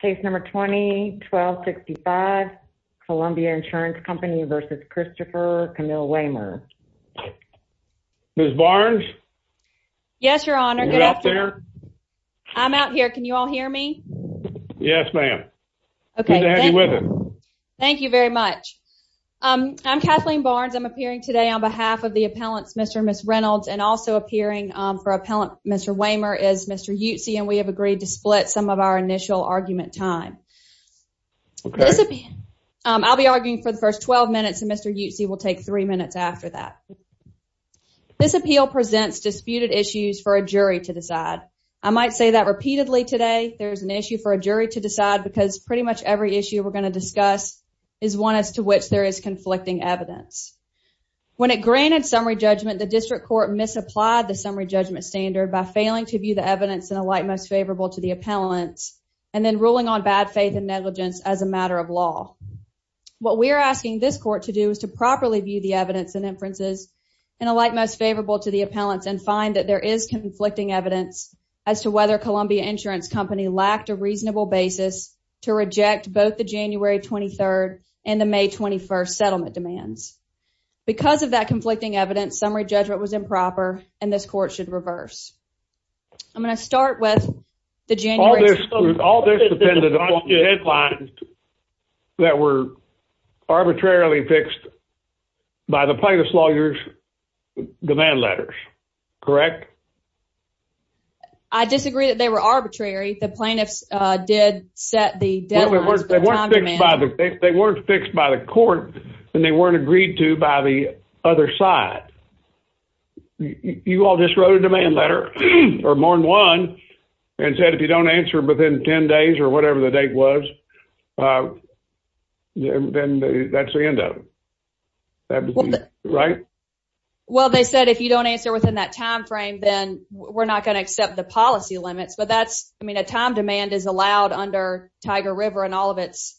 Case number 20-1265 Columbia Insurance Company versus Christopher Camille Waymer. Ms. Barnes? Yes, your honor. Good afternoon. Are you out there? I'm out here. Can you all hear me? Yes, ma'am. Good to have you with us. Thank you very much. I'm Kathleen Barnes. I'm appearing today on behalf of the appellants Mr. and Ms. Reynolds and also appearing for appellant Mr. Waymer is Mr. Utsi and we have agreed to split some of our initial argument time. I'll be arguing for the first 12 minutes and Mr. Utsi will take three minutes after that. This appeal presents disputed issues for a jury to decide. I might say that repeatedly today. There's an issue for a jury to decide because pretty much every issue we're going to discuss is one as to which there is conflicting evidence. When it granted summary judgment, the district court misapplied the summary judgment standard by failing to view the evidence in a light most favorable to the appellants and then ruling on bad faith and negligence as a matter of law. What we're asking this court to do is to properly view the evidence and inferences in a light most favorable to the appellants and find that there is conflicting evidence as to whether Columbia Insurance Company lacked a reasonable basis to reject both the January 23rd and the May 21st settlement demands. Because of that conflicting evidence, summary judgment was improper and this court should reverse. I'm going to start with the January... All this depended on the headlines that were arbitrarily fixed by the plaintiff's lawyers demand letters, correct? I disagree that they were arbitrary. The plaintiffs did set the deadlines. They weren't fixed by the court and they weren't agreed to by the other side. You all just wrote a demand letter or more than one and said if you don't answer within 10 days or whatever the date was, then that's the end of it, right? Well, they said if you don't answer within that time frame, then we're not going to accept the policy limits. But that's, I mean, a time demand is allowed under Tiger River and all of its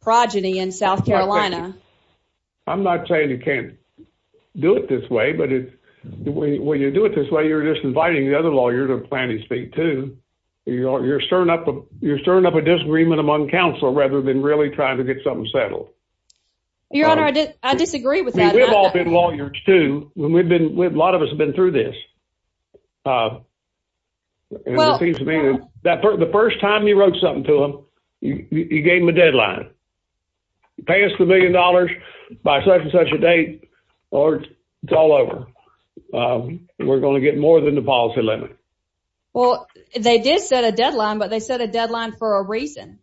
progeny in South Carolina. I'm not saying you can't do it this way, but when you do it this way, you're just inviting the other lawyer to plant his feet too. You're stirring up a disagreement among counsel rather than really trying to get something settled. Your Honor, I disagree with that. We've all been lawyers too. A lot of us have been through this. The first time you wrote something to them, you gave them a deadline. You pay us the million dollars by such and such a date or it's all over. We're going to get more than the policy limit. Well, they did set a deadline, but they set a deadline for a reason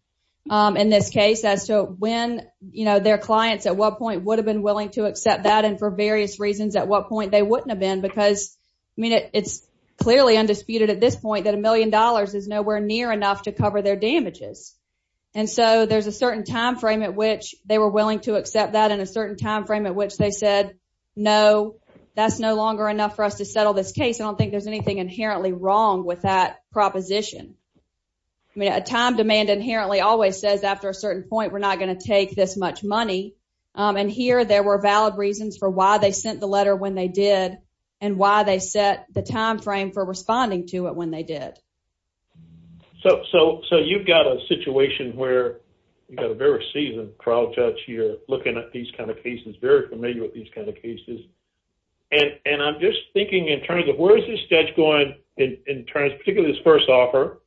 in this case as to when their clients at what point would have been willing to accept that and for various reasons at what point they wouldn't have been because, I mean, it's clearly undisputed at this point that a million dollars is nowhere near enough to cover their damages. There's a certain time frame at which they were willing to accept that and a certain time frame at which they said, no, that's no longer enough for us to settle this case. I don't think there's anything inherently wrong with that proposition. A time demand inherently always says after a certain point, we're not going to take this much money. Here, there were valid reasons for why they sent the letter when they did and why they set the time frame for responding to it when they did. So you've got a situation where you've got a very seasoned trial judge here looking at these kind of cases, very familiar with these kind of cases, and I'm just thinking in terms of where is this judge going in terms, particularly this first offer,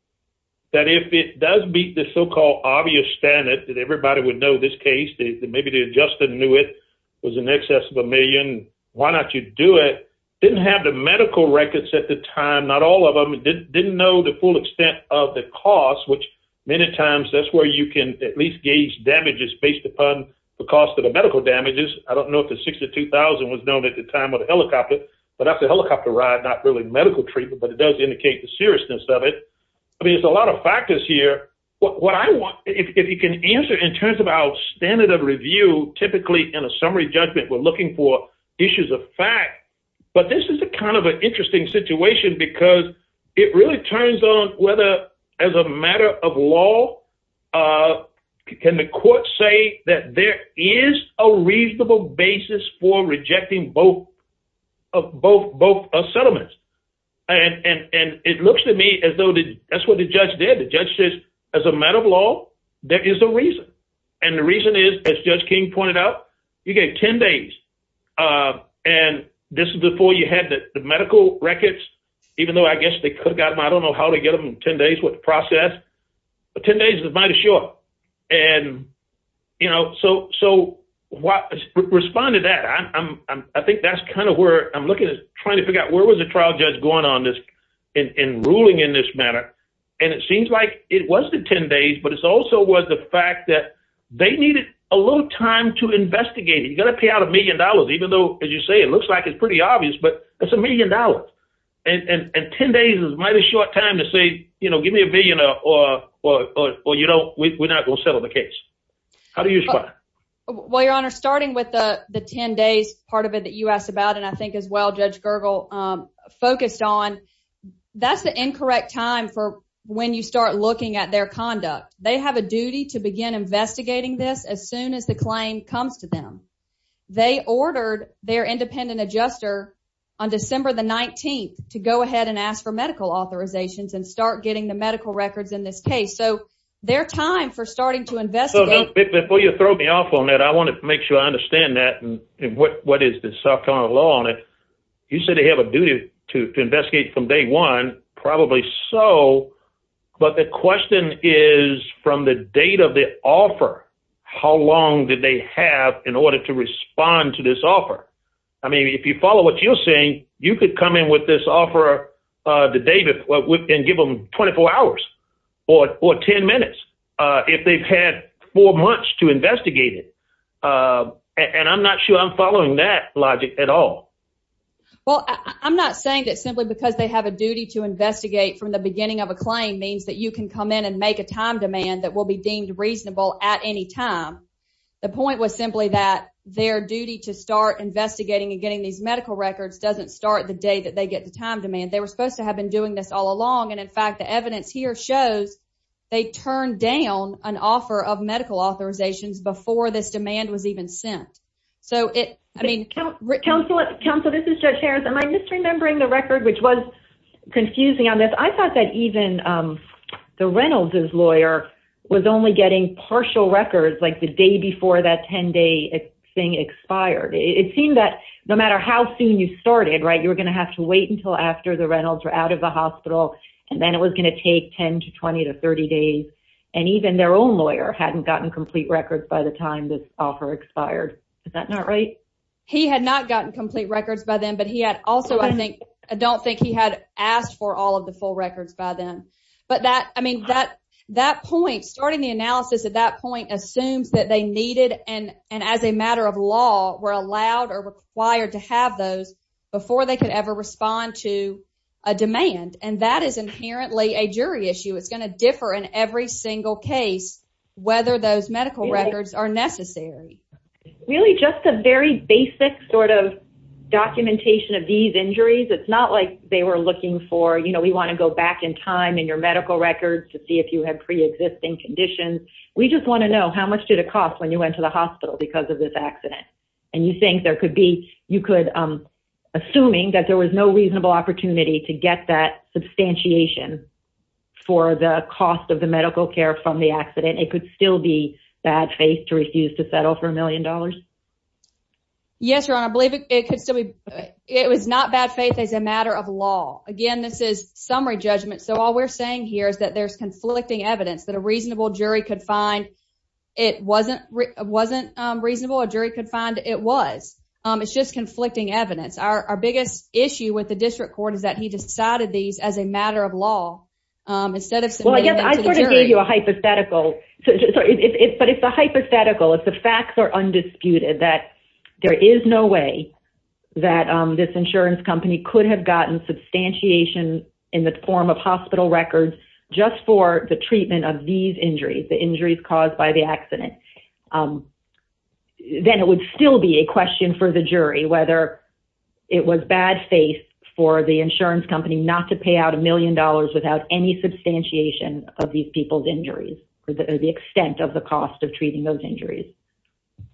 that if it does beat the so-called obvious standard that everybody would know this case, maybe they just knew it was in excess of a million, why not you do it? Didn't have the time, not all of them, didn't know the full extent of the cost, which many times that's where you can at least gauge damages based upon the cost of the medical damages. I don't know if the 62,000 was known at the time of the helicopter, but that's a helicopter ride, not really medical treatment, but it does indicate the seriousness of it. I mean, it's a lot of factors here. What I want, if you can answer in terms of our standard of review, typically in a summary judgment, we're looking for issues of fact, but this is a kind of an interesting situation because it really turns on whether as a matter of law, can the court say that there is a reasonable basis for rejecting both settlements? And it looks to me as though that's what the judge did. The judge says, as a matter of law, there is a reason. And the reason is, as Judge King pointed out, you gave 10 days. And this is before you had the medical records, even though I guess they could have got them, I don't know how to get them in 10 days with the process, but 10 days is a bite of shore. And, you know, so respond to that. I think that's kind of where I'm looking at trying to figure out where was the trial judge going on in ruling in this matter? And it seems like it wasn't 10 days, but it's also was the fact that they needed a little time to investigate. You got to pay out a million dollars, even though, as you say, it looks like it's pretty obvious, but it's a million dollars. And 10 days is might a short time to say, you know, give me a billion or, or, or, or, you know, we're not going to settle the case. How do you respond? Well, Your Honor, starting with the 10 days, part of it that you asked about, and I think as well, Judge Gergel focused on, that's the incorrect time for when you looking at their conduct. They have a duty to begin investigating this as soon as the claim comes to them. They ordered their independent adjuster on December the 19th to go ahead and ask for medical authorizations and start getting the medical records in this case. So their time for starting to investigate. Before you throw me off on that, I want to make sure I understand that and what is the South Carolina law on it. You said they have a duty to investigate from day one, probably so. But the question is from the date of the offer, how long did they have in order to respond to this offer? I mean, if you follow what you're saying, you could come in with this offer the day before and give them 24 hours or 10 minutes if they've had four months to investigate it. And I'm not sure I'm following that logic at all. Well, I'm not saying that simply because they have a duty to investigate from the beginning of a claim means that you can come in and make a time demand that will be deemed reasonable at any time. The point was simply that their duty to start investigating and getting these medical records doesn't start the day that they get the time demand. They were supposed to have been doing this all along. And in fact, the evidence here shows they turned down an offer of medical authorizations before this demand was confusing on this. I thought that even the Reynolds's lawyer was only getting partial records like the day before that 10 day thing expired. It seemed that no matter how soon you started, right, you were going to have to wait until after the Reynolds were out of the hospital and then it was going to take 10 to 20 to 30 days. And even their own lawyer hadn't gotten complete records by the time this offer expired. Is that not right? He had not gotten complete records by then, but he had also, I think, I don't think he had asked for all of the full records by then. But that, I mean, that, that point, starting the analysis at that point assumes that they needed and as a matter of law were allowed or required to have those before they could ever respond to a demand. And that is inherently a jury issue. It's going to differ in every single case, whether those medical records are necessary. Really just a very basic sort of documentation of these injuries. It's not like they were looking for, you know, we want to go back in time in your medical records to see if you had pre-existing conditions. We just want to know how much did it cost when you went to the hospital because of this accident? And you think there could be, you could, um, assuming that there was no reasonable opportunity to get that substantiation for the cost of the medical care from the accident, it could still be faith to refuse to settle for a million dollars? Yes, your honor. I believe it could still be, it was not bad faith as a matter of law. Again, this is summary judgment. So all we're saying here is that there's conflicting evidence that a reasonable jury could find. It wasn't, wasn't, um, reasonable. A jury could find it was, um, it's just conflicting evidence. Our, our biggest issue with the district court is that he decided these as a matter of law, um, instead of, well, but it's a hypothetical. If the facts are undisputed, that there is no way that, um, this insurance company could have gotten substantiation in the form of hospital records just for the treatment of these injuries, the injuries caused by the accident. Um, then it would still be a question for the jury, whether it was bad faith for the insurance company not to pay out a million dollars without any substantiation of these people's injuries or the extent of the cost of treating those injuries.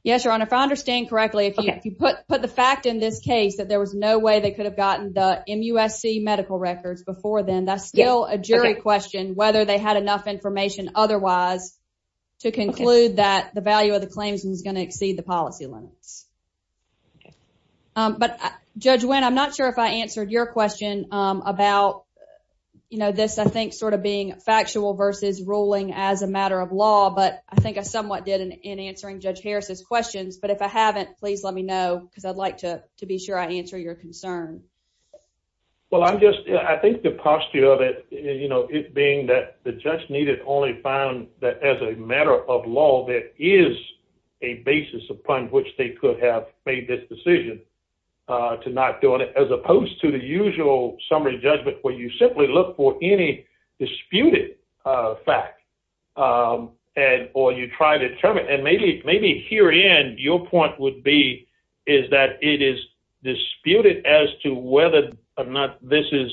Yes, your honor. If I understand correctly, if you put, put the fact in this case that there was no way they could have gotten the MUSC medical records before then, that's still a jury question, whether they had enough information otherwise to conclude that the value of the claims is going to exceed the policy limits. Okay. Um, but judge when, I'm not sure if I answered your question, um, about, you know, this, I think sort of being factual versus ruling as a matter of law, but I think I somewhat did in answering judge Harris's questions, but if I haven't, please let me know. Cause I'd like to, to be sure I answer your concern. Well, I'm just, I think the posture of it, you know, it being that the judge needed only found that as a matter of law, there is a basis upon which they could have made this decision, uh, to not doing it as opposed to the usual summary judgment, where you simply look for any disputed, uh, fact, um, and, or you try to determine, and maybe, maybe here in your point would be, is that it is disputed as to whether or not this is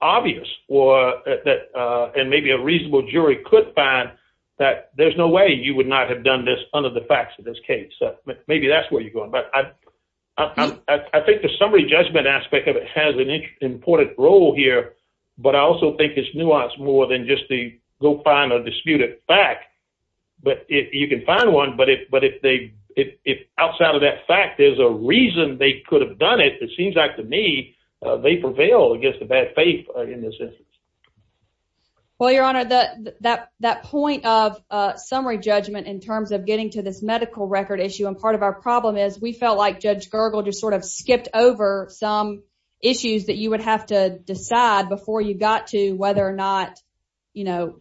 obvious or that, uh, and maybe a reasonable jury could find that there's no way you would not have done this under the facts of this case. So maybe that's where you're going, but I, I, I think the summary judgment aspect of it has an important role here, but I also think it's nuanced more than just the go find a disputed fact, but if you can find one, but if, but if they, if, if outside of that fact, there's a reason they could have done it, it seems like to me, uh, they prevail against the bad faith in this instance. Well, your honor, that, that, that point of, uh, summary judgment in terms of getting to this medical record issue. And part of our problem is we felt like judge just sort of skipped over some issues that you would have to decide before you got to whether or not, you know,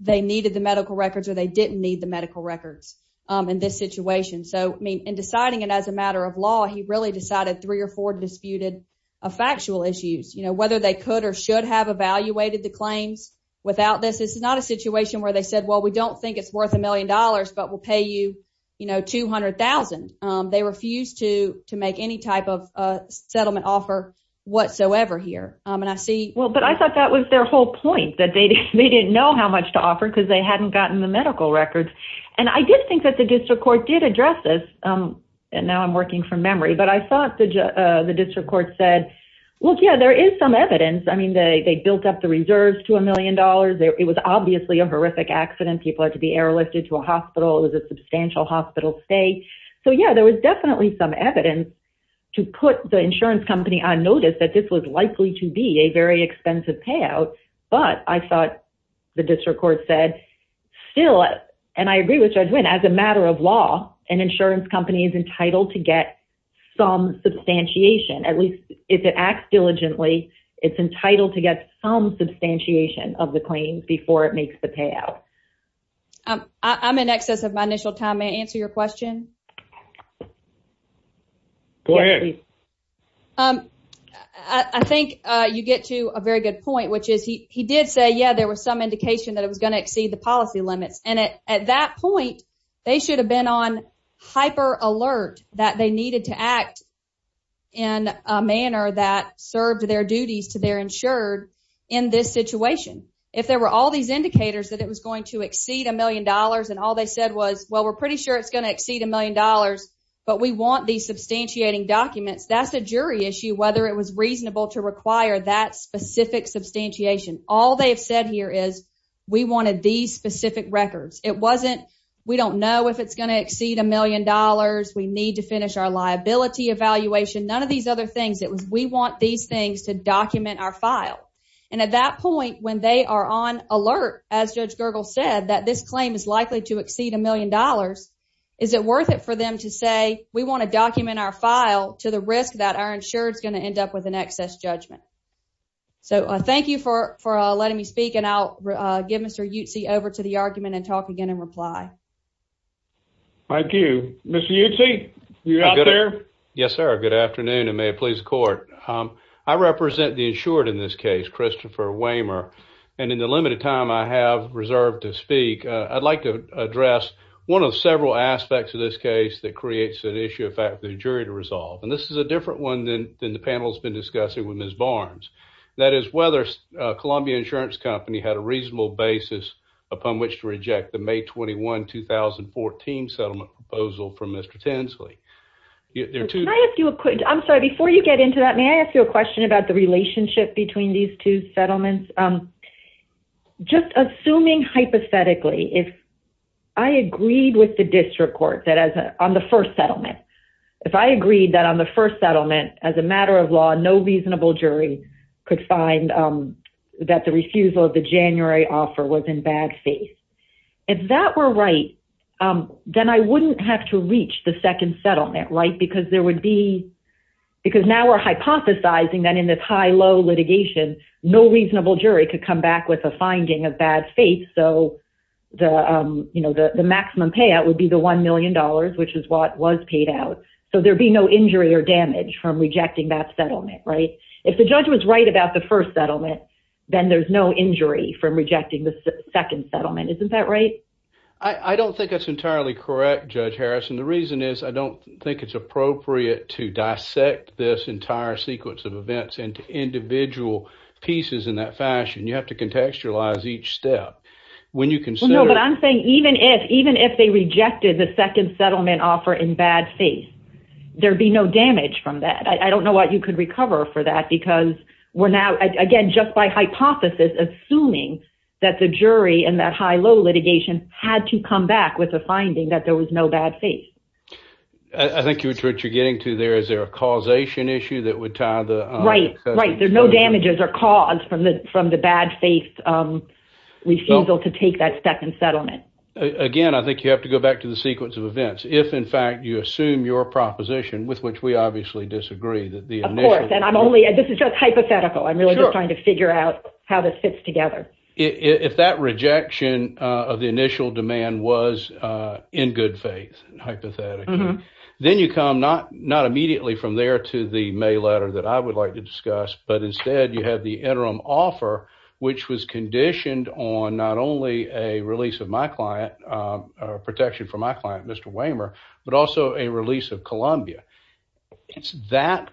they needed the medical records or they didn't need the medical records, um, in this situation. So, I mean, in deciding it as a matter of law, he really decided three or four disputed a factual issues, you know, whether they could or should have evaluated the claims without this, this is not a situation where they said, well, we don't think it's worth a million dollars, but we'll pay you, you know, 200,000. Um, they refuse to, to make any type of, uh, settlement offer whatsoever here. Um, and I see, well, but I thought that was their whole point that they didn't, they didn't know how much to offer because they hadn't gotten the medical records. And I did think that the district court did address this. Um, and now I'm working from memory, but I thought the, uh, the district court said, well, yeah, there is some evidence. I mean, they, they built up the reserves to a million dollars. It was obviously a horrific accident. People had to be airlifted to a hospital. It was a substantial hospital stay. So yeah, there was definitely some evidence to put the insurance company on notice that this was likely to be a very expensive payout, but I thought the district court said still. And I agree with Judge Wynn as a matter of law and insurance company is entitled to get some substantiation. At least if it acts diligently, it's entitled to get some substantiation of the claims before it Um, I'm in excess of my initial time. May I answer your question? Go ahead. Um, I, I think, uh, you get to a very good point, which is he, he did say, yeah, there was some indication that it was going to exceed the policy limits. And at, at that point they should have been on hyper alert that they needed to act in a manner that served their duties to their insured in this situation. If there were all these indicators that it was going to exceed a million dollars and all they said was, well, we're pretty sure it's going to exceed a million dollars, but we want these substantiating documents. That's a jury issue, whether it was reasonable to require that specific substantiation. All they've said here is we wanted these specific records. It wasn't, we don't know if it's going to exceed a million dollars. We need to finish our liability evaluation. None of these other things. It was, we want these things to document our file. And at that point, when they are on alert, as judge Gergel said, that this claim is likely to exceed a million dollars, is it worth it for them to say, we want to document our file to the risk that our insurance going to end up with an excess judgment. So thank you for, for letting me speak and I'll give Mr. UTC over to the argument and talk again and reply. Thank you, Mr. UTC. You're out there. Yes, sir. Good afternoon. And may it please the court. I represent the insured in this case, Christopher Wehmer. And in the limited time I have reserved to speak, I'd like to address one of several aspects of this case that creates an issue, in fact, the jury to resolve. And this is a different one than the panel has been discussing with Ms. Barnes. That is whether Columbia Insurance Company had a reasonable basis upon which to reject the May 21, 2014 settlement proposal from Mr. Tinsley. I'm sorry, before you get into that, may I ask you a question about the relationship between these two settlements? Just assuming hypothetically, if I agreed with the district court that as on the first settlement, if I agreed that on the first settlement, as a matter of law, no reasonable jury could find that the refusal of the January offer was in bad faith. If that were right, then I wouldn't have to reach the second settlement, right? Because there would be, because now we're hypothesizing that in this high-low litigation, no reasonable jury could come back with a finding of bad faith. So the maximum payout would be the $1 million, which is what was paid out. So there'd be no injury or damage from rejecting that settlement, right? If the judge was right about the first settlement, then there's no injury from rejecting the second settlement. Isn't that right? I don't think that's entirely correct, Judge Harrison. The reason is I don't think it's appropriate to dissect this entire sequence of events into individual pieces in that fashion. You have to contextualize each step. When you consider... No, but I'm saying even if, even if they rejected the second settlement offer in bad faith, there'd be no damage from that. I don't know what you could recover for that because we're now, again, just by hypothesis, assuming that the jury in that high-low litigation had to come back with a finding that there was no bad faith. I think what you're getting to there, is there a causation issue that would tie the... Right, right. There's no damages or cause from the bad faith refusal to take that second settlement. Again, I think you have to go back to the proposition with which we obviously disagree. Of course, and I'm only... This is just hypothetical. I'm really just trying to figure out how this fits together. If that rejection of the initial demand was in good faith, hypothetically, then you come not immediately from there to the mail letter that I would like to discuss, but instead you have the interim offer, which was conditioned on not only a release of my client, protection for my client, Mr. Wehmer, but also a release of Columbia. It's that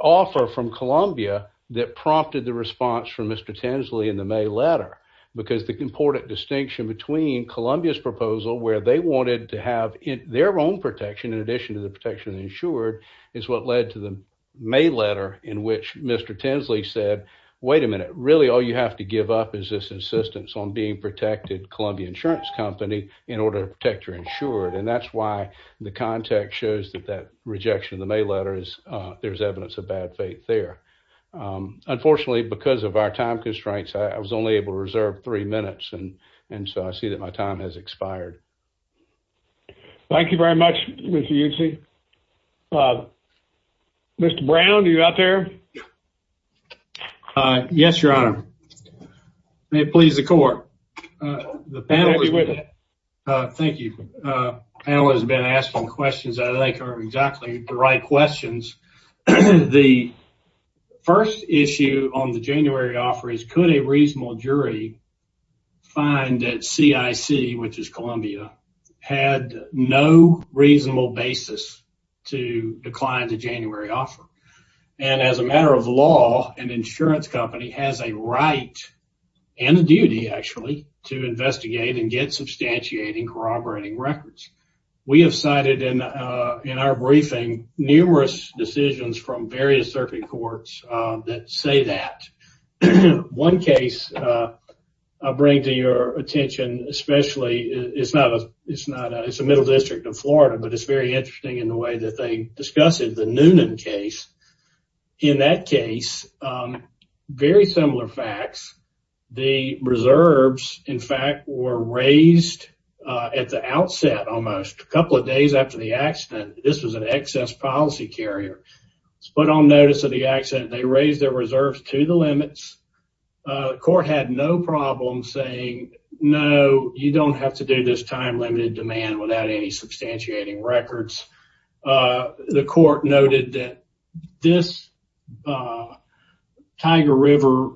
offer from Columbia that prompted the response from Mr. Tinsley in the mail letter because the important distinction between Columbia's proposal, where they wanted to have their own protection in addition to the protection insured, is what led to the mail letter in which Mr. Tinsley said, wait a minute, really all you have to give up is this insistence on being protected Columbia Insurance Company in order to protect your insured. That's why the context shows that that rejection of the mail letter is there's evidence of bad faith there. Unfortunately, because of our time constraints, I was only able to reserve three minutes, and so I see that my time has expired. Thank you very much, Mr. Yudsey. Mr. Brown, are you out there? Yes, your honor. May it please the court. Thank you. The panel has been asking questions that I think are exactly the right questions. The first issue on the January offer is could a reasonable jury find that CIC, which is Columbia, had no reasonable basis to decline the January offer? As a matter of law, an insurance company has a right and a duty, actually, to investigate and get substantiating corroborating records. We have cited in our briefing numerous decisions from various circuit courts that say that. One case I bring to your attention, especially, it's a middle district of Florida, but it's very interesting in the way that they discuss it, the Noonan case. In that case, very similar facts. The reserves, in fact, were raised at the outset, almost a couple of days after the accident. This was an excess policy carrier. It's put on notice of the accident. They raised their reserves to limits. The court had no problem saying, no, you don't have to do this time-limited demand without any substantiating records. The court noted that this Tiger River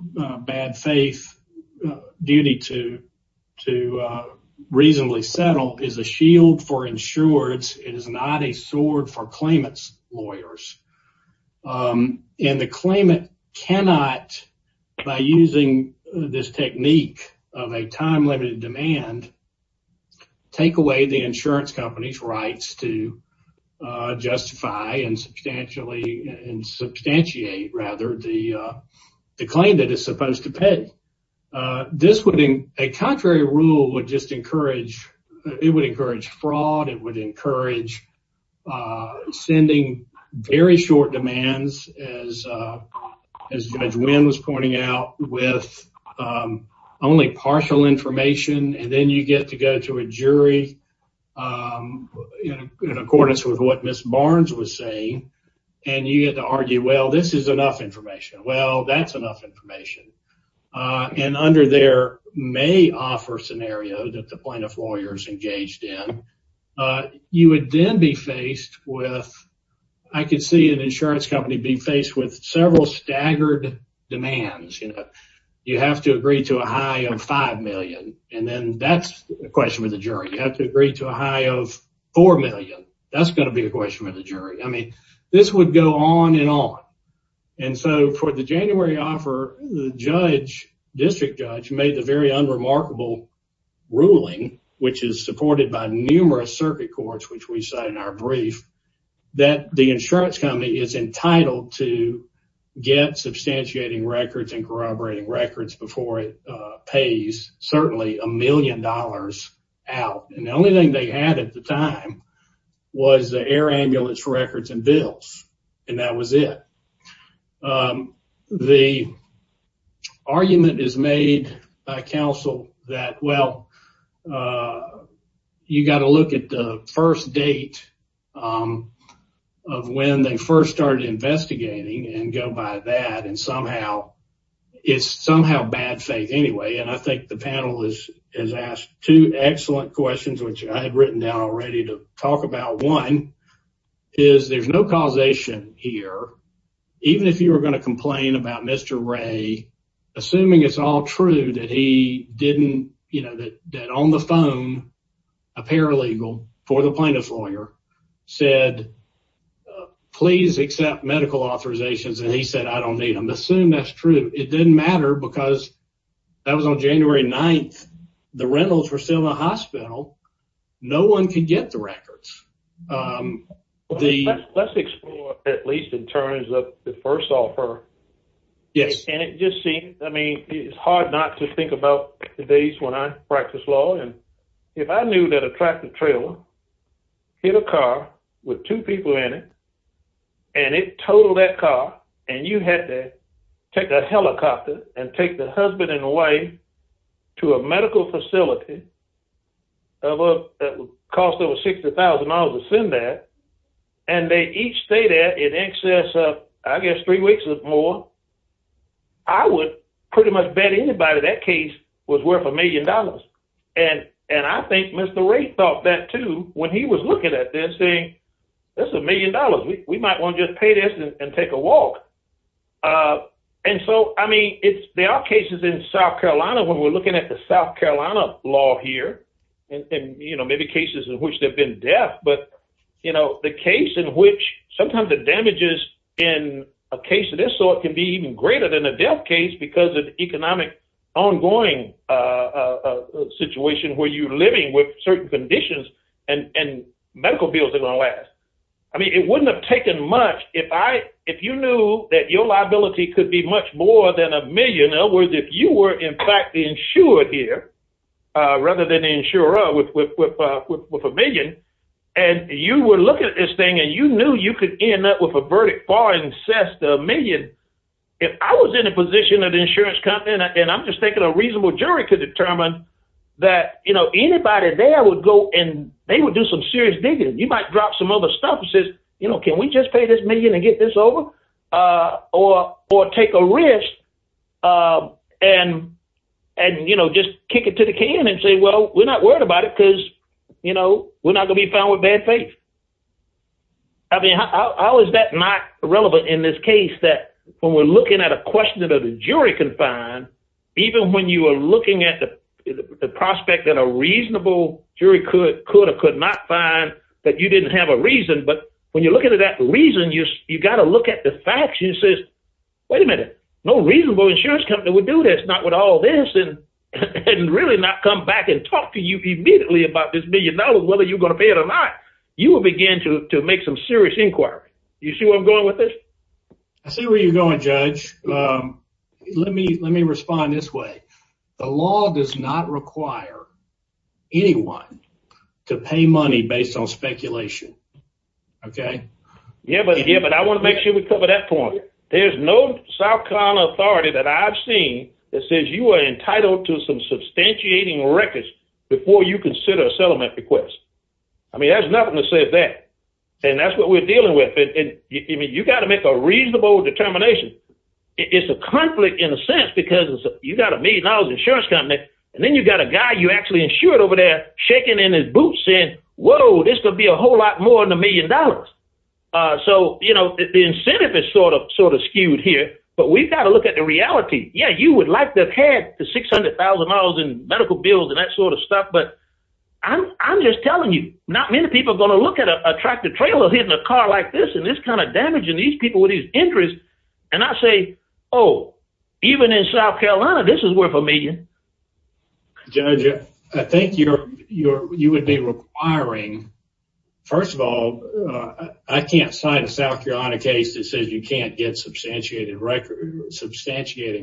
bad faith duty to reasonably settle is a shield for insurers. It is not a sword for claimant's lawyers. The claimant cannot, by using this technique of a time-limited demand, take away the insurance company's rights to justify and substantiate the claim that it's supposed to pay. This would, a contrary rule would just encourage, it would encourage fraud, it would encourage sending very short demands, as Judge Wynn was pointing out, with only partial information, and then you get to go to a jury in accordance with what Ms. Barnes was saying, and you get to argue, well, this is enough information. Well, that's enough information. And under their may-offer scenario that the plaintiff lawyers engaged in, you would then be faced with, I could see an insurance company be faced with several staggered demands. You have to agree to a high of $5 million, and then that's a question for the jury. You have to agree to a high of $4 million. That's going to be a question for the jury. I mean, this would go on and on. And so, for the January offer, the judge, district judge, made the very unremarkable ruling, which is supported by numerous circuit courts, which we cite in our brief, that the insurance company is entitled to get substantiating records and corroborating records before it pays, certainly, a million dollars out. And the only thing they had at the time was the air ambulance records and bills, and that was it. The argument is made by counsel that, well, you got to look at the first date of when they first started investigating and go by that, and somehow, it's somehow bad faith anyway. And I think the panel has asked two excellent questions, which I had written down already to talk about. One is, there's no causation here. Even if you were going to complain about Mr. Ray, assuming it's all true that he didn't, you know, that on the phone, a paralegal for the plaintiff's lawyer said, please accept medical authorizations, and he said, I don't need them. Assume that's true. It didn't matter because that was on January 9th. The rentals were still in the hospital. No one could get the records. Let's explore, at least, in terms of the first offer. Yes. And it just seems, I mean, it's hard not to think about the days when I practiced law, and if I knew that a tractor trailer hit a car with two people in it, and it totaled that car, and you had to take a helicopter and take the husband and wife to a medical facility that would cost over $60,000 to send that, and they each stayed there in excess of, I guess, three weeks or more, I would pretty much bet anybody that case was worth a million dollars. And I think Mr. Ray thought that, too, when he was looking at this, saying, this is a million dollars. We might want to just pay this and take a walk. And so, I mean, there are cases in South Carolina when we're looking at the South Carolina law here, and, you know, maybe cases in which they've been deaf, but, you know, the case in which sometimes the damages in a case of this sort can be even greater than a deaf case because of ongoing economic situation where you're living with certain conditions and medical bills are going to last. I mean, it wouldn't have taken much if you knew that your liability could be much more than a million. In other words, if you were, in fact, the insurer here, rather than the insurer with a million, and you were looking at this thing, and you knew you could end up with a verdict far incest of a million, if I was in a position of the insurance company, and I'm just thinking a reasonable jury could determine that, you know, anybody there would go and they would do some serious digging. You might drop some other stuff and say, you know, can we just pay this million and get this over? Or take a risk and, you know, just kick it to the can and say, well, we're not worried about it because, you know, we're not going to be found with bad faith. I mean, how is that not relevant in this case that when we're looking at a question that a jury can find, even when you are looking at the prospect that a reasonable jury could or could not find that you didn't have a reason, but when you're looking at that reason, you got to look at the facts and say, wait a minute, no reasonable insurance company would do this, not with all this and really not come back and talk to you immediately about this million dollars, whether you're going to pay it or not. You will begin to make some serious inquiry. You see where I'm going with this? I see where you're going, Judge. Let me respond this way. The law does not require anyone to pay money based on speculation. Okay. Yeah, but I want to make sure we cover that point. There's no South Carolina authority that I've seen that says you are entitled to some request. I mean, there's nothing to say that and that's what we're dealing with. And you got to make a reasonable determination. It's a conflict in a sense because you got a million dollars insurance company and then you got a guy you actually insured over there shaking in his boots saying, whoa, this could be a whole lot more than a million dollars. So, you know, the incentive is sort of skewed here, but we've got to look at the reality. Yeah, you would like to have had $600,000 in medical bills and that sort of stuff, but I'm just telling you, not many people are going to look at a tractor trailer hitting a car like this and this kind of damaging these people with these injuries. And I say, oh, even in South Carolina, this is worth a million. Judge, I think you would be requiring, first of all, I can't cite a South Carolina case that says can't get substantiating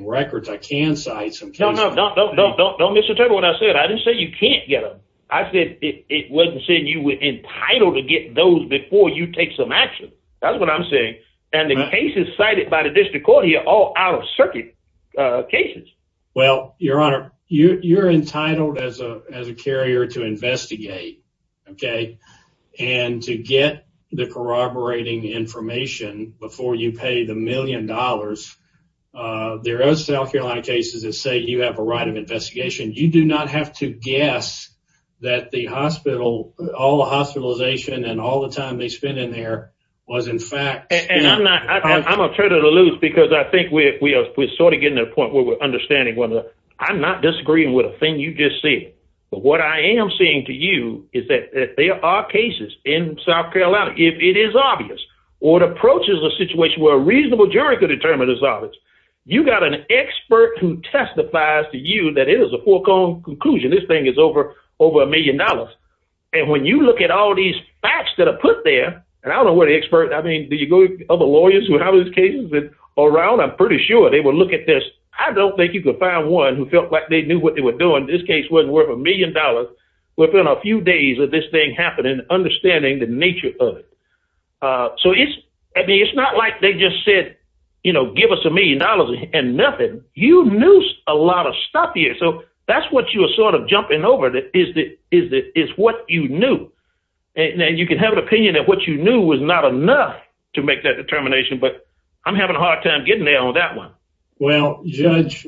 records. I can cite some cases. No, no, no, no, no, no, Mr. Turner, what I said, I didn't say you can't get them. I said it wasn't saying you were entitled to get those before you take some action. That's what I'm saying. And the cases cited by the district court here are all out of circuit cases. Well, your honor, you're entitled as a carrier to pay the million dollars. There are South Carolina cases that say you have a right of investigation. You do not have to guess that the hospital, all the hospitalization and all the time they spent in there was in fact. And I'm not, I'm going to turn it loose because I think we are sort of getting to a point where we're understanding whether I'm not disagreeing with a thing you just said, but what I am saying to you is that there are cases in South Carolina. It is obvious or it approaches a situation where a reasonable jury could determine this. You got an expert who testifies to you that it is a full-blown conclusion. This thing is over, over a million dollars. And when you look at all these facts that are put there, and I don't know where the expert, I mean, did you go to other lawyers who have those cases around? I'm pretty sure they would look at this. I don't think you could find one who felt like they knew what they were doing. This case wasn't worth a million dollars within a few days of this thing happening, understanding the nature of it. So it's, I mean, it's not like they just said, you know, give us a million dollars and nothing. You knew a lot of stuff here. So that's what you were sort of jumping over that is what you knew. And you can have an opinion that what you knew was not enough to make that determination, but I'm having a hard time getting there on that one. Well, Judge,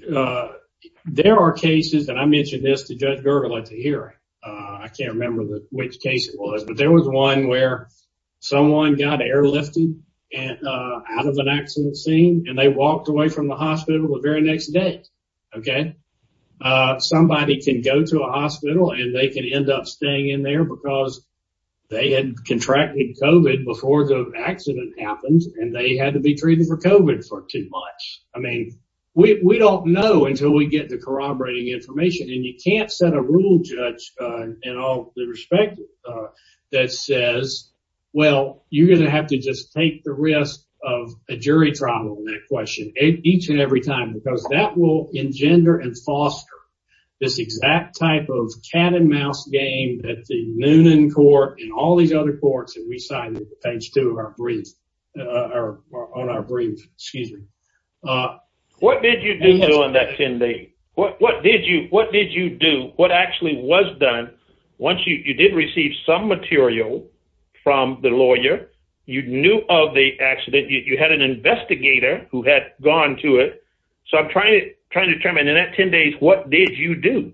there are cases that I mentioned this to Judge Gergel at the I can't remember which case it was, but there was one where someone got airlifted out of an accident scene and they walked away from the hospital the very next day. Okay. Somebody can go to a hospital and they can end up staying in there because they had contracted COVID before the accident happened and they had to be treated for COVID for too much. I mean, we don't know until we get the corroborating information and you can't set a rule, Judge, in all the respect that says, well, you're going to have to just take the risk of a jury trial on that question each and every time, because that will engender and foster this exact type of cat and mouse game that the Noonan court and all these other courts that we actually was done. Once you did receive some material from the lawyer, you knew of the accident, you had an investigator who had gone to it. So I'm trying to determine in that 10 days, what did you do?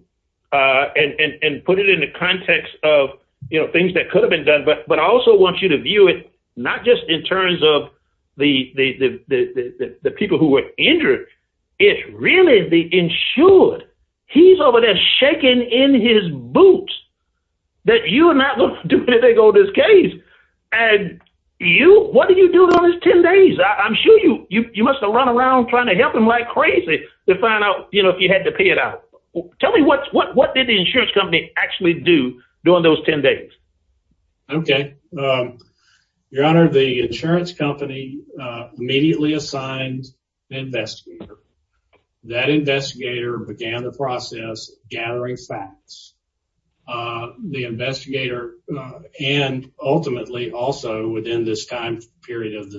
And put it in the context of things that could have been done, but I also want you to view it not just in terms of the people who were injured, it's really the insured. He's over there shaking in his boots that you are not going to do anything with this case. And you, what did you do during those 10 days? I'm sure you must've run around trying to help him like crazy to find out if you had to pay it out. Tell me what did the insurance company actually do during those 10 days? Okay. Your honor, the insurance company immediately assigned an investigator. That investigator began the process gathering facts. The investigator and ultimately also within this time period of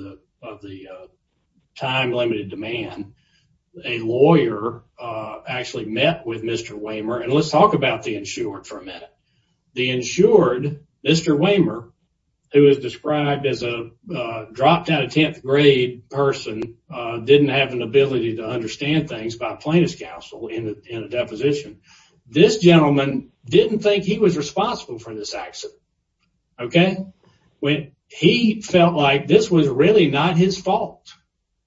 the time limited demand, a lawyer actually met with Mr. Wehmer and let's talk about the insured for a minute. The insured, Mr. Wehmer, who is described as a dropped out of 10th grade person, didn't have an ability to understand things by plaintiff's counsel in a deposition. This gentleman didn't think he was responsible for this accident. Okay. When he felt like this was really not his fault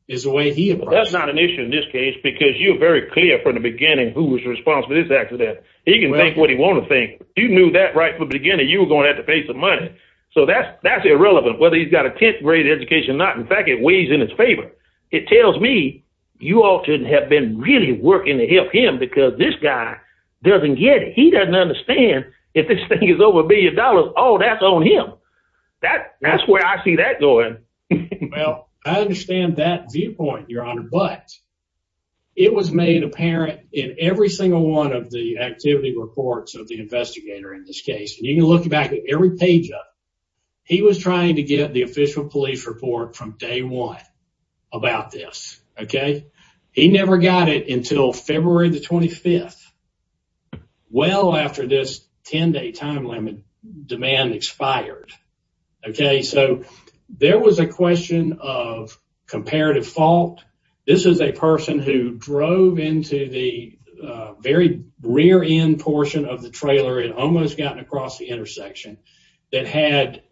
is the way he- That's not an issue in this case because you're very clear from the beginning who was responsible for this accident. He can think what he want to think. You knew that right from the beginning, you were going to have to pay some money. That's irrelevant whether he's got a 10th grade education or not. In fact, it weighs in his favor. It tells me you ought to have been really working to help him because this guy doesn't get it. He doesn't understand if this thing is over a billion dollars, all that's on him. That's where I see that going. Well, I understand that viewpoint, your honor, but it was made apparent in every single one of the activity reports of the page up. He was trying to get the official police report from day one about this. He never got it until February the 25th, well after this 10 day time limit demand expired. There was a question of comparative fault. This is a person who drove into the very rear end portion of the trailer and almost gotten across the intersection that had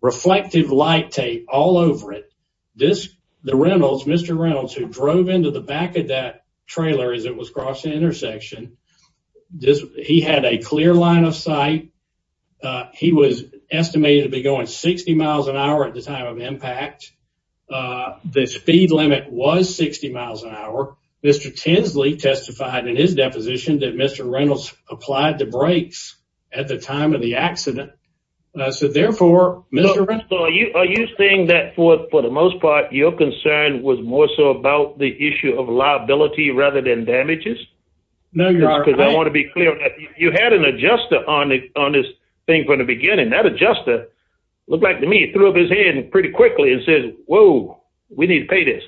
reflective light tape all over it. The Reynolds, Mr. Reynolds who drove into the back of that trailer as it was crossing the intersection, he had a clear line of sight. He was estimated to be going 60 miles an hour at the time of impact. The speed limit was 60 miles an hour. Mr. Tinsley testified in his deposition that Mr. Reynolds applied the brakes at the time of the accident. Are you saying that for the most part, your concern was more so about the issue of liability rather than damages? No, your honor. I want to be clear. You had an adjuster on this thing from the beginning. That adjuster looked like to me threw up his hand pretty quickly and said, whoa, we need to pay this.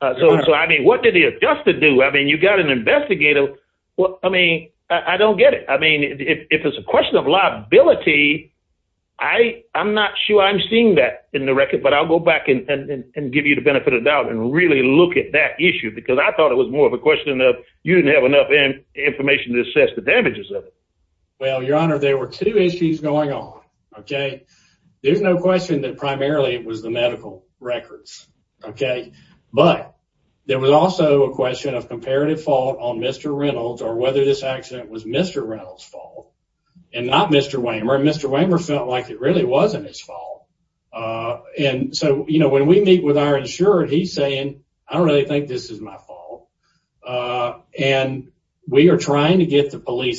So, I mean, what did the adjuster do? I mean, you got an investigator. Well, I mean, I don't get it. I mean, if it's a question of liability, I'm not sure I'm seeing that in the record, but I'll go back and give you the benefit of doubt and really look at that issue because I thought it was more of a question of you didn't have enough information to assess the damages of it. Well, your honor, there were two issues going on. There's no question that primarily it was the medical records, but there was also a question of comparative fault on Mr. Reynolds or whether this accident was Mr. Reynolds' fault and not Mr. Wehmer. Mr. Wehmer felt like it really wasn't his fault. And so, you know, when we meet with our insurer, he's saying, I don't really think this is my fault. And we are trying to get the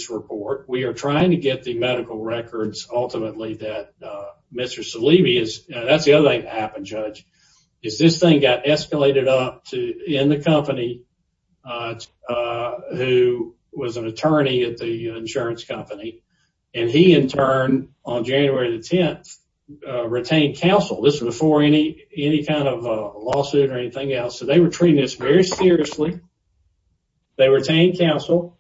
report. We are trying to get the medical records, ultimately, that Mr. Salibi is, that's the other thing that happened, Judge, is this thing got escalated up in the company who was an attorney at the insurance company. And he, in turn, on January the 10th, retained counsel. This was before any kind of lawsuit or anything else. So, they were treating this very seriously. They retained counsel.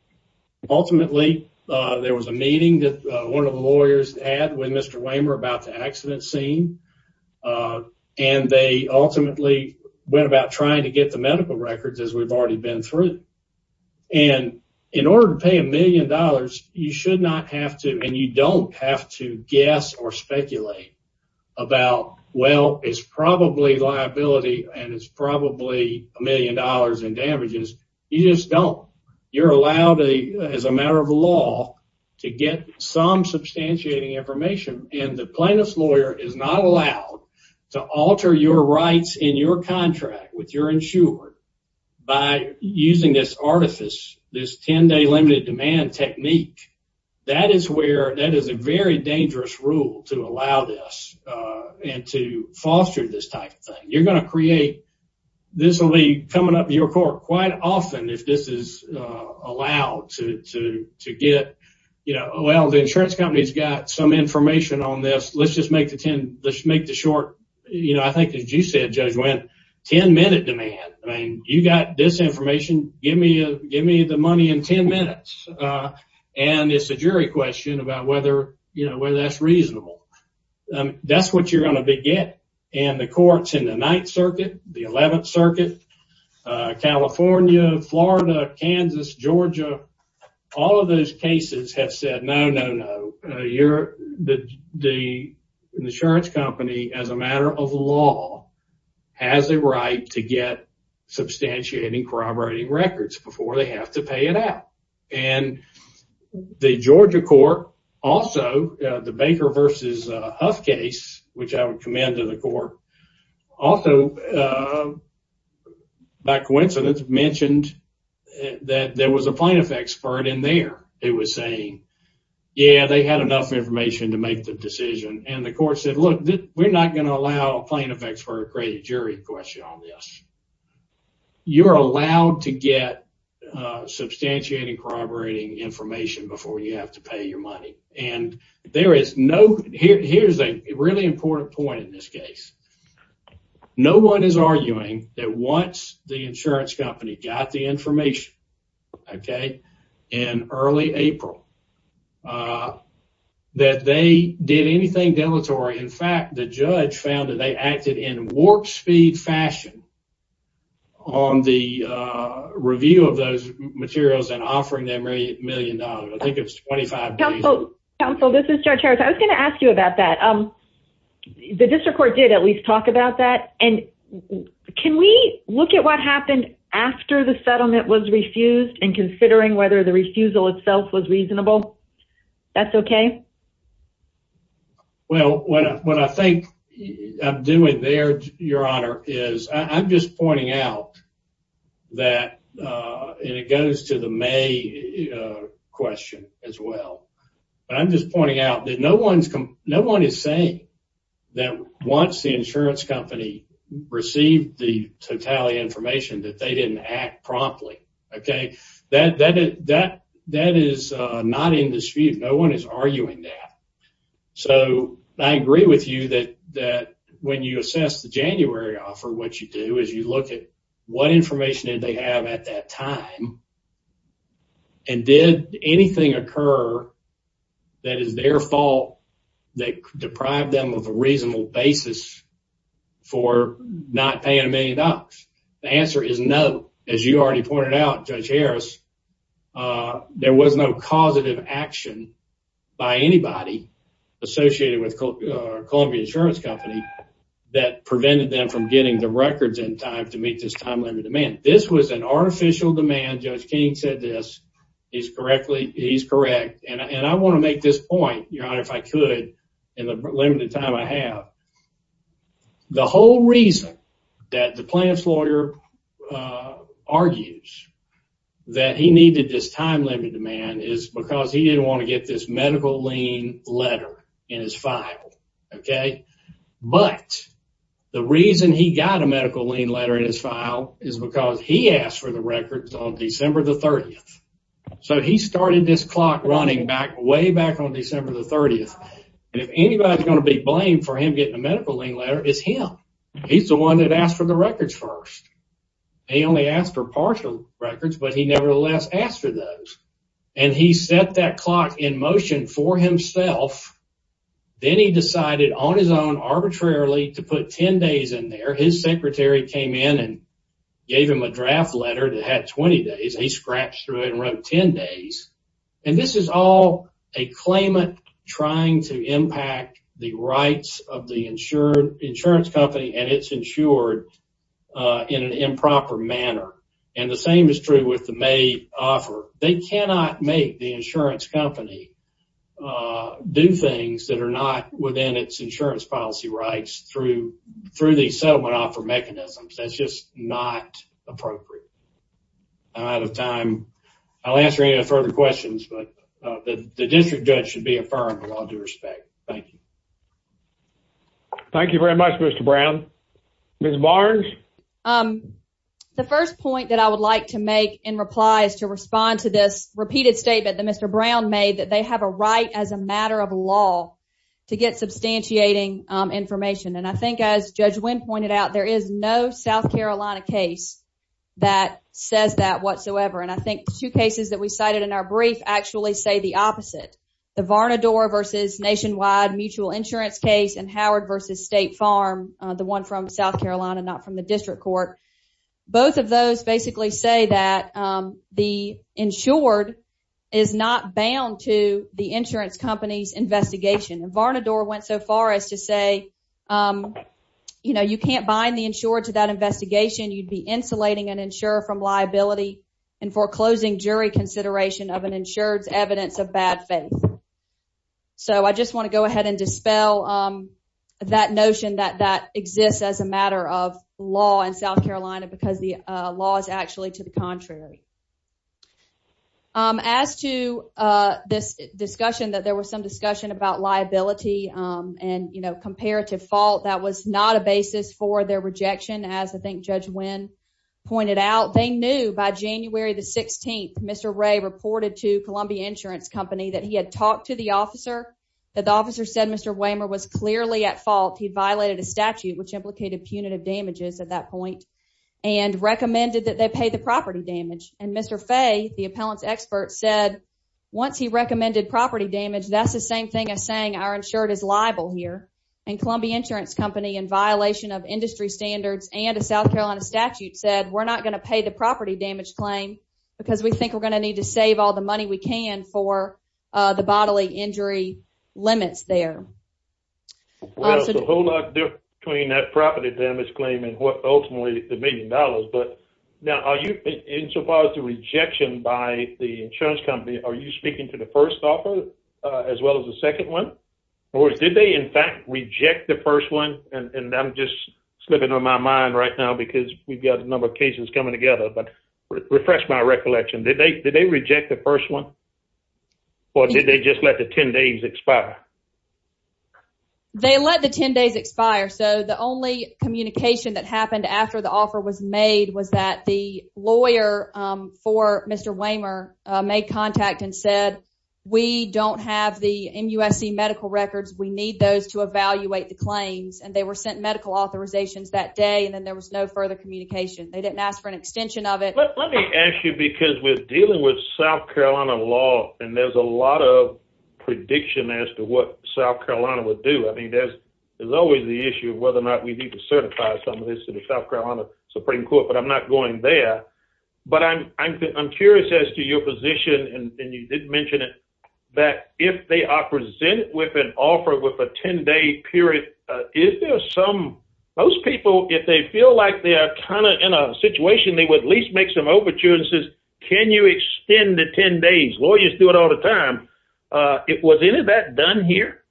Ultimately, there was a meeting that one of the lawyers had with Mr. Wehmer about the accident scene. And they ultimately went about trying to get the medical records, as we've already been through. And in order to pay a million dollars, you should not have to, and you don't have to, a million dollars in damages. You just don't. You're allowed, as a matter of law, to get some substantiating information. And the plaintiff's lawyer is not allowed to alter your rights in your contract with your insurer by using this artifice, this 10-day limited demand technique. That is where, that is a very dangerous rule to allow this and to come up to your court quite often if this is allowed to get, well, the insurance company's got some information on this. Let's just make the short, I think as you said, Judge Wendt, 10-minute demand. You've got this information. Give me the money in 10 minutes. And it's a jury question about whether that's reasonable. That's what you're going to get. And the court's in the 11th Circuit, California, Florida, Kansas, Georgia, all of those cases have said, no, no, no. The insurance company, as a matter of law, has a right to get substantiating, corroborating records before they have to pay it out. And the Georgia court also, the Baker versus Huff case, which I would commend to the court, also, by coincidence, mentioned that there was a plaintiff expert in there who was saying, yeah, they had enough information to make the decision. And the court said, look, we're not going to allow a plaintiff expert to create a jury question on this. You're allowed to get substantiating, corroborating information before you have to pay it out. And that's a very important point in this case. No one is arguing that once the insurance company got the information, okay, in early April, that they did anything deleterious. In fact, the judge found that they acted in warp speed fashion on the review of those materials and offering them a million dollars. I think it was 25 days. Counsel, this is Judge Harris. I was The district court did at least talk about that. And can we look at what happened after the settlement was refused and considering whether the refusal itself was reasonable? That's okay. Well, what I think I'm doing there, Your Honor, is I'm just pointing out that, and it goes to the totality question as well. I'm just pointing out that no one is saying that once the insurance company received the totality information that they didn't act promptly, okay? That is not in dispute. No one is arguing that. So I agree with you that when you assess the January offer, what time and did anything occur that is their fault that deprived them of a reasonable basis for not paying a million dollars? The answer is no. As you already pointed out, Judge Harris, there was no causative action by anybody associated with Columbia Insurance Company that prevented them from getting the records in time to meet this time limit of demand. This was an artificial demand. Judge King said this. He's correct. And I want to make this point, Your Honor, if I could, in the limited time I have. The whole reason that the plaintiff's lawyer argues that he needed this time limit demand is because he didn't want to get this medical lien letter in his file, okay? But the reason he got a medical lien letter in his file is because he asked for the records on December the 30th. So he started this clock running back way back on December the 30th, and if anybody's going to be blamed for him getting a medical lien letter, it's him. He's the one that asked for the records first. He only asked for partial records, but he nevertheless asked for those, and he set that clock in motion for himself. Then he decided on his own arbitrarily to put 10 days in there. His secretary came in and gave him a draft letter that had 20 days. He scrapped through it and wrote 10 days, and this is all a claimant trying to impact the rights of the insurance company, and it's insured in an improper manner, and the same is true with the May offer. They cannot make the insurance company do things that are not within its insurance policy rights through the settlement offer mechanisms. That's just not appropriate. I'm out of time. I'll answer any further questions, but the district judge should be affirmed with all due respect. Thank you. Thank you very much, Mr. Brown. Ms. Barnes? The first point that I would like to make in reply is to respond to this repeated statement that Mr. Brown made that they have a right as a matter of law to get substantiating information, and I think as Judge Wynn pointed out, there is no South Carolina case that says that whatsoever, and I think the two cases that we cited in our brief actually say the opposite. The Varnador versus nationwide mutual insurance case and Howard versus State Farm, the one from South Carolina, not from the district court, both of those basically say that the insured is not bound to the insurance company's investigation. Varnador went so far as to say, you know, you can't bind the insured to that investigation. You'd be insulating an insurer from liability and foreclosing jury consideration of an insured's evidence of bad faith. So, I just want to go ahead and dispel that notion that that exists as a matter of law in South Carolina because the law is actually to the contrary. As to this discussion that there was some discussion about liability and, you know, comparative fault, that was not a basis for their rejection, as I think Judge Wynn pointed out. They knew by January the 16th, Mr. Ray reported to Columbia Insurance Company that he had talked to the officer, that the officer said Mr. Wehmer was clearly at fault. He violated a statute which implicated punitive damages at that point and recommended that they pay the property damage, and Mr. Fay, the appellant's expert, said once he recommended property damage, that's the same thing as saying our insured is liable here, and Columbia Insurance Company, in violation of industry standards and a South Carolina statute, said we're not going to pay the property damage claim because we think we're going to need to save all the money we can for the bodily injury limits there. Well, there's a whole lot of difference between that property damage claim and what ultimately the million dollars, but now are you, insofar as the rejection by the insurance company, are you speaking to the first offer as well as the second one, or did they in fact reject the first one, and I'm just slipping on my mind right now because we've got a number of cases coming together, but refresh my recollection. Did they reject the first one, or did they just let the 10 days expire? They let the 10 days expire, so the only communication that happened after the offer was made was that the lawyer for Mr. Wehmer made contact and said, we don't have the MUSC medical records. We need those to evaluate the claims, and they were sent medical authorizations that day, and then there was no further communication. They didn't ask for an extension of it. Let me ask you, because we're dealing with South Carolina law, and there's a lot of prediction as to what South Carolina would do. I mean, there's always the issue of whether or not we need to certify some of this to the South Carolina Supreme Court, but I'm not going there, but I'm curious as to your position, and you did mention it, that if they are presented with an offer with a 10-day period, is there some, most people, if they feel like they are kind of in a situation, they would at least make some overtures and says, can you extend the 10 days? Lawyers do it all the time. Was any of that done here?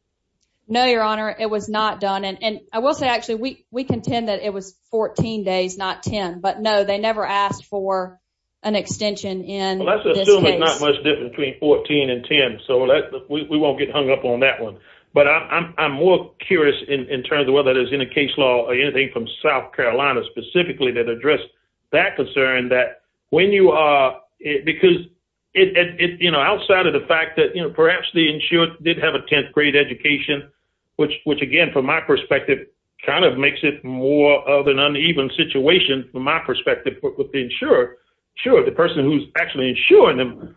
No, your honor, it was not done, and I will say, actually, we contend that it was 14 days, not 10, but no, they never asked for an extension in this case. Let's assume it's not much different between 14 and 10, so we won't get hung up on that one, but I'm more curious in terms of whether there's any case law or anything from South Carolina specifically that address that concern that when you are, because it, you know, outside of the fact that, you know, perhaps the insured did have a 10th grade education, which again, from my perspective, kind of makes it more of an uneven situation from my perspective with the insurer, sure, the person who's actually insuring them,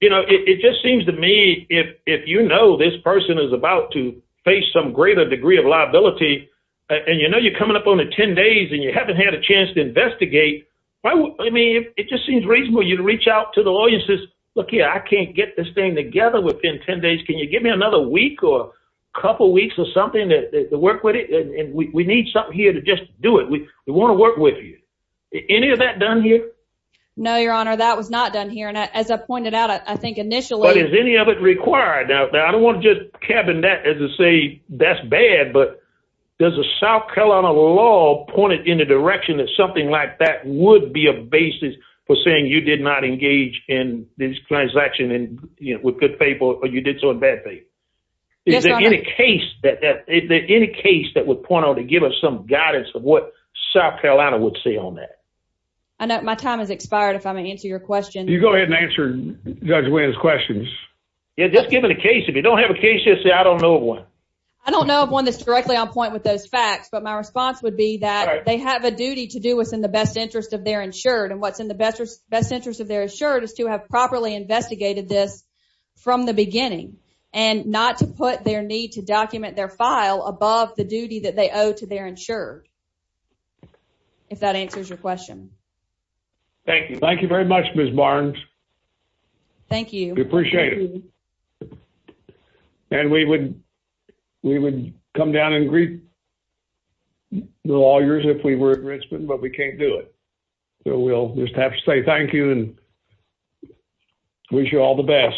you know, it just seems to me if you know this person is about to face some greater degree of liability and you know you're coming up on a 10 days and you haven't had a chance to investigate, I mean, it just seems reasonable you'd reach out to the lawyer and says, look here, I can't get this thing together within 10 days, can you give me another week or a couple weeks or something to work with it? And we need something here to just do it. We want to work with you. Any of that done here? No, your honor, that was not done here, and as I pointed out, I think initially. But is any of it required? Now, I don't want to just cabin that as to say that's bad, but does the South Carolina law point it in the direction that something like that would be a basis for saying you did not engage in this transaction with good people, or you did so in bad faith? Is there any case that would point on to give us some guidance of what South Carolina would say on that? I know my time has expired if I may answer your question. You go ahead and answer Judge Wynn's questions. Yeah, just give it a case. If you don't have a case, just say I don't know of one. I don't know of one that's directly on point with those facts, but my response would be that they have a duty to do what's in the best interest of their insured and what's in the best interest of their insured is to have properly investigated this from the beginning and not to put their need to document their file above the duty that they owe to their insured, if that answers your question. Thank you. Thank you very much, Ms. Barnes. Thank you. We appreciate it. And we would come down and greet the lawyers if we were in Richmond, but we can't do it. So we'll just have to say thank you and wish you all the best.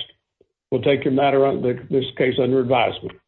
We'll take your matter on this case under advisement.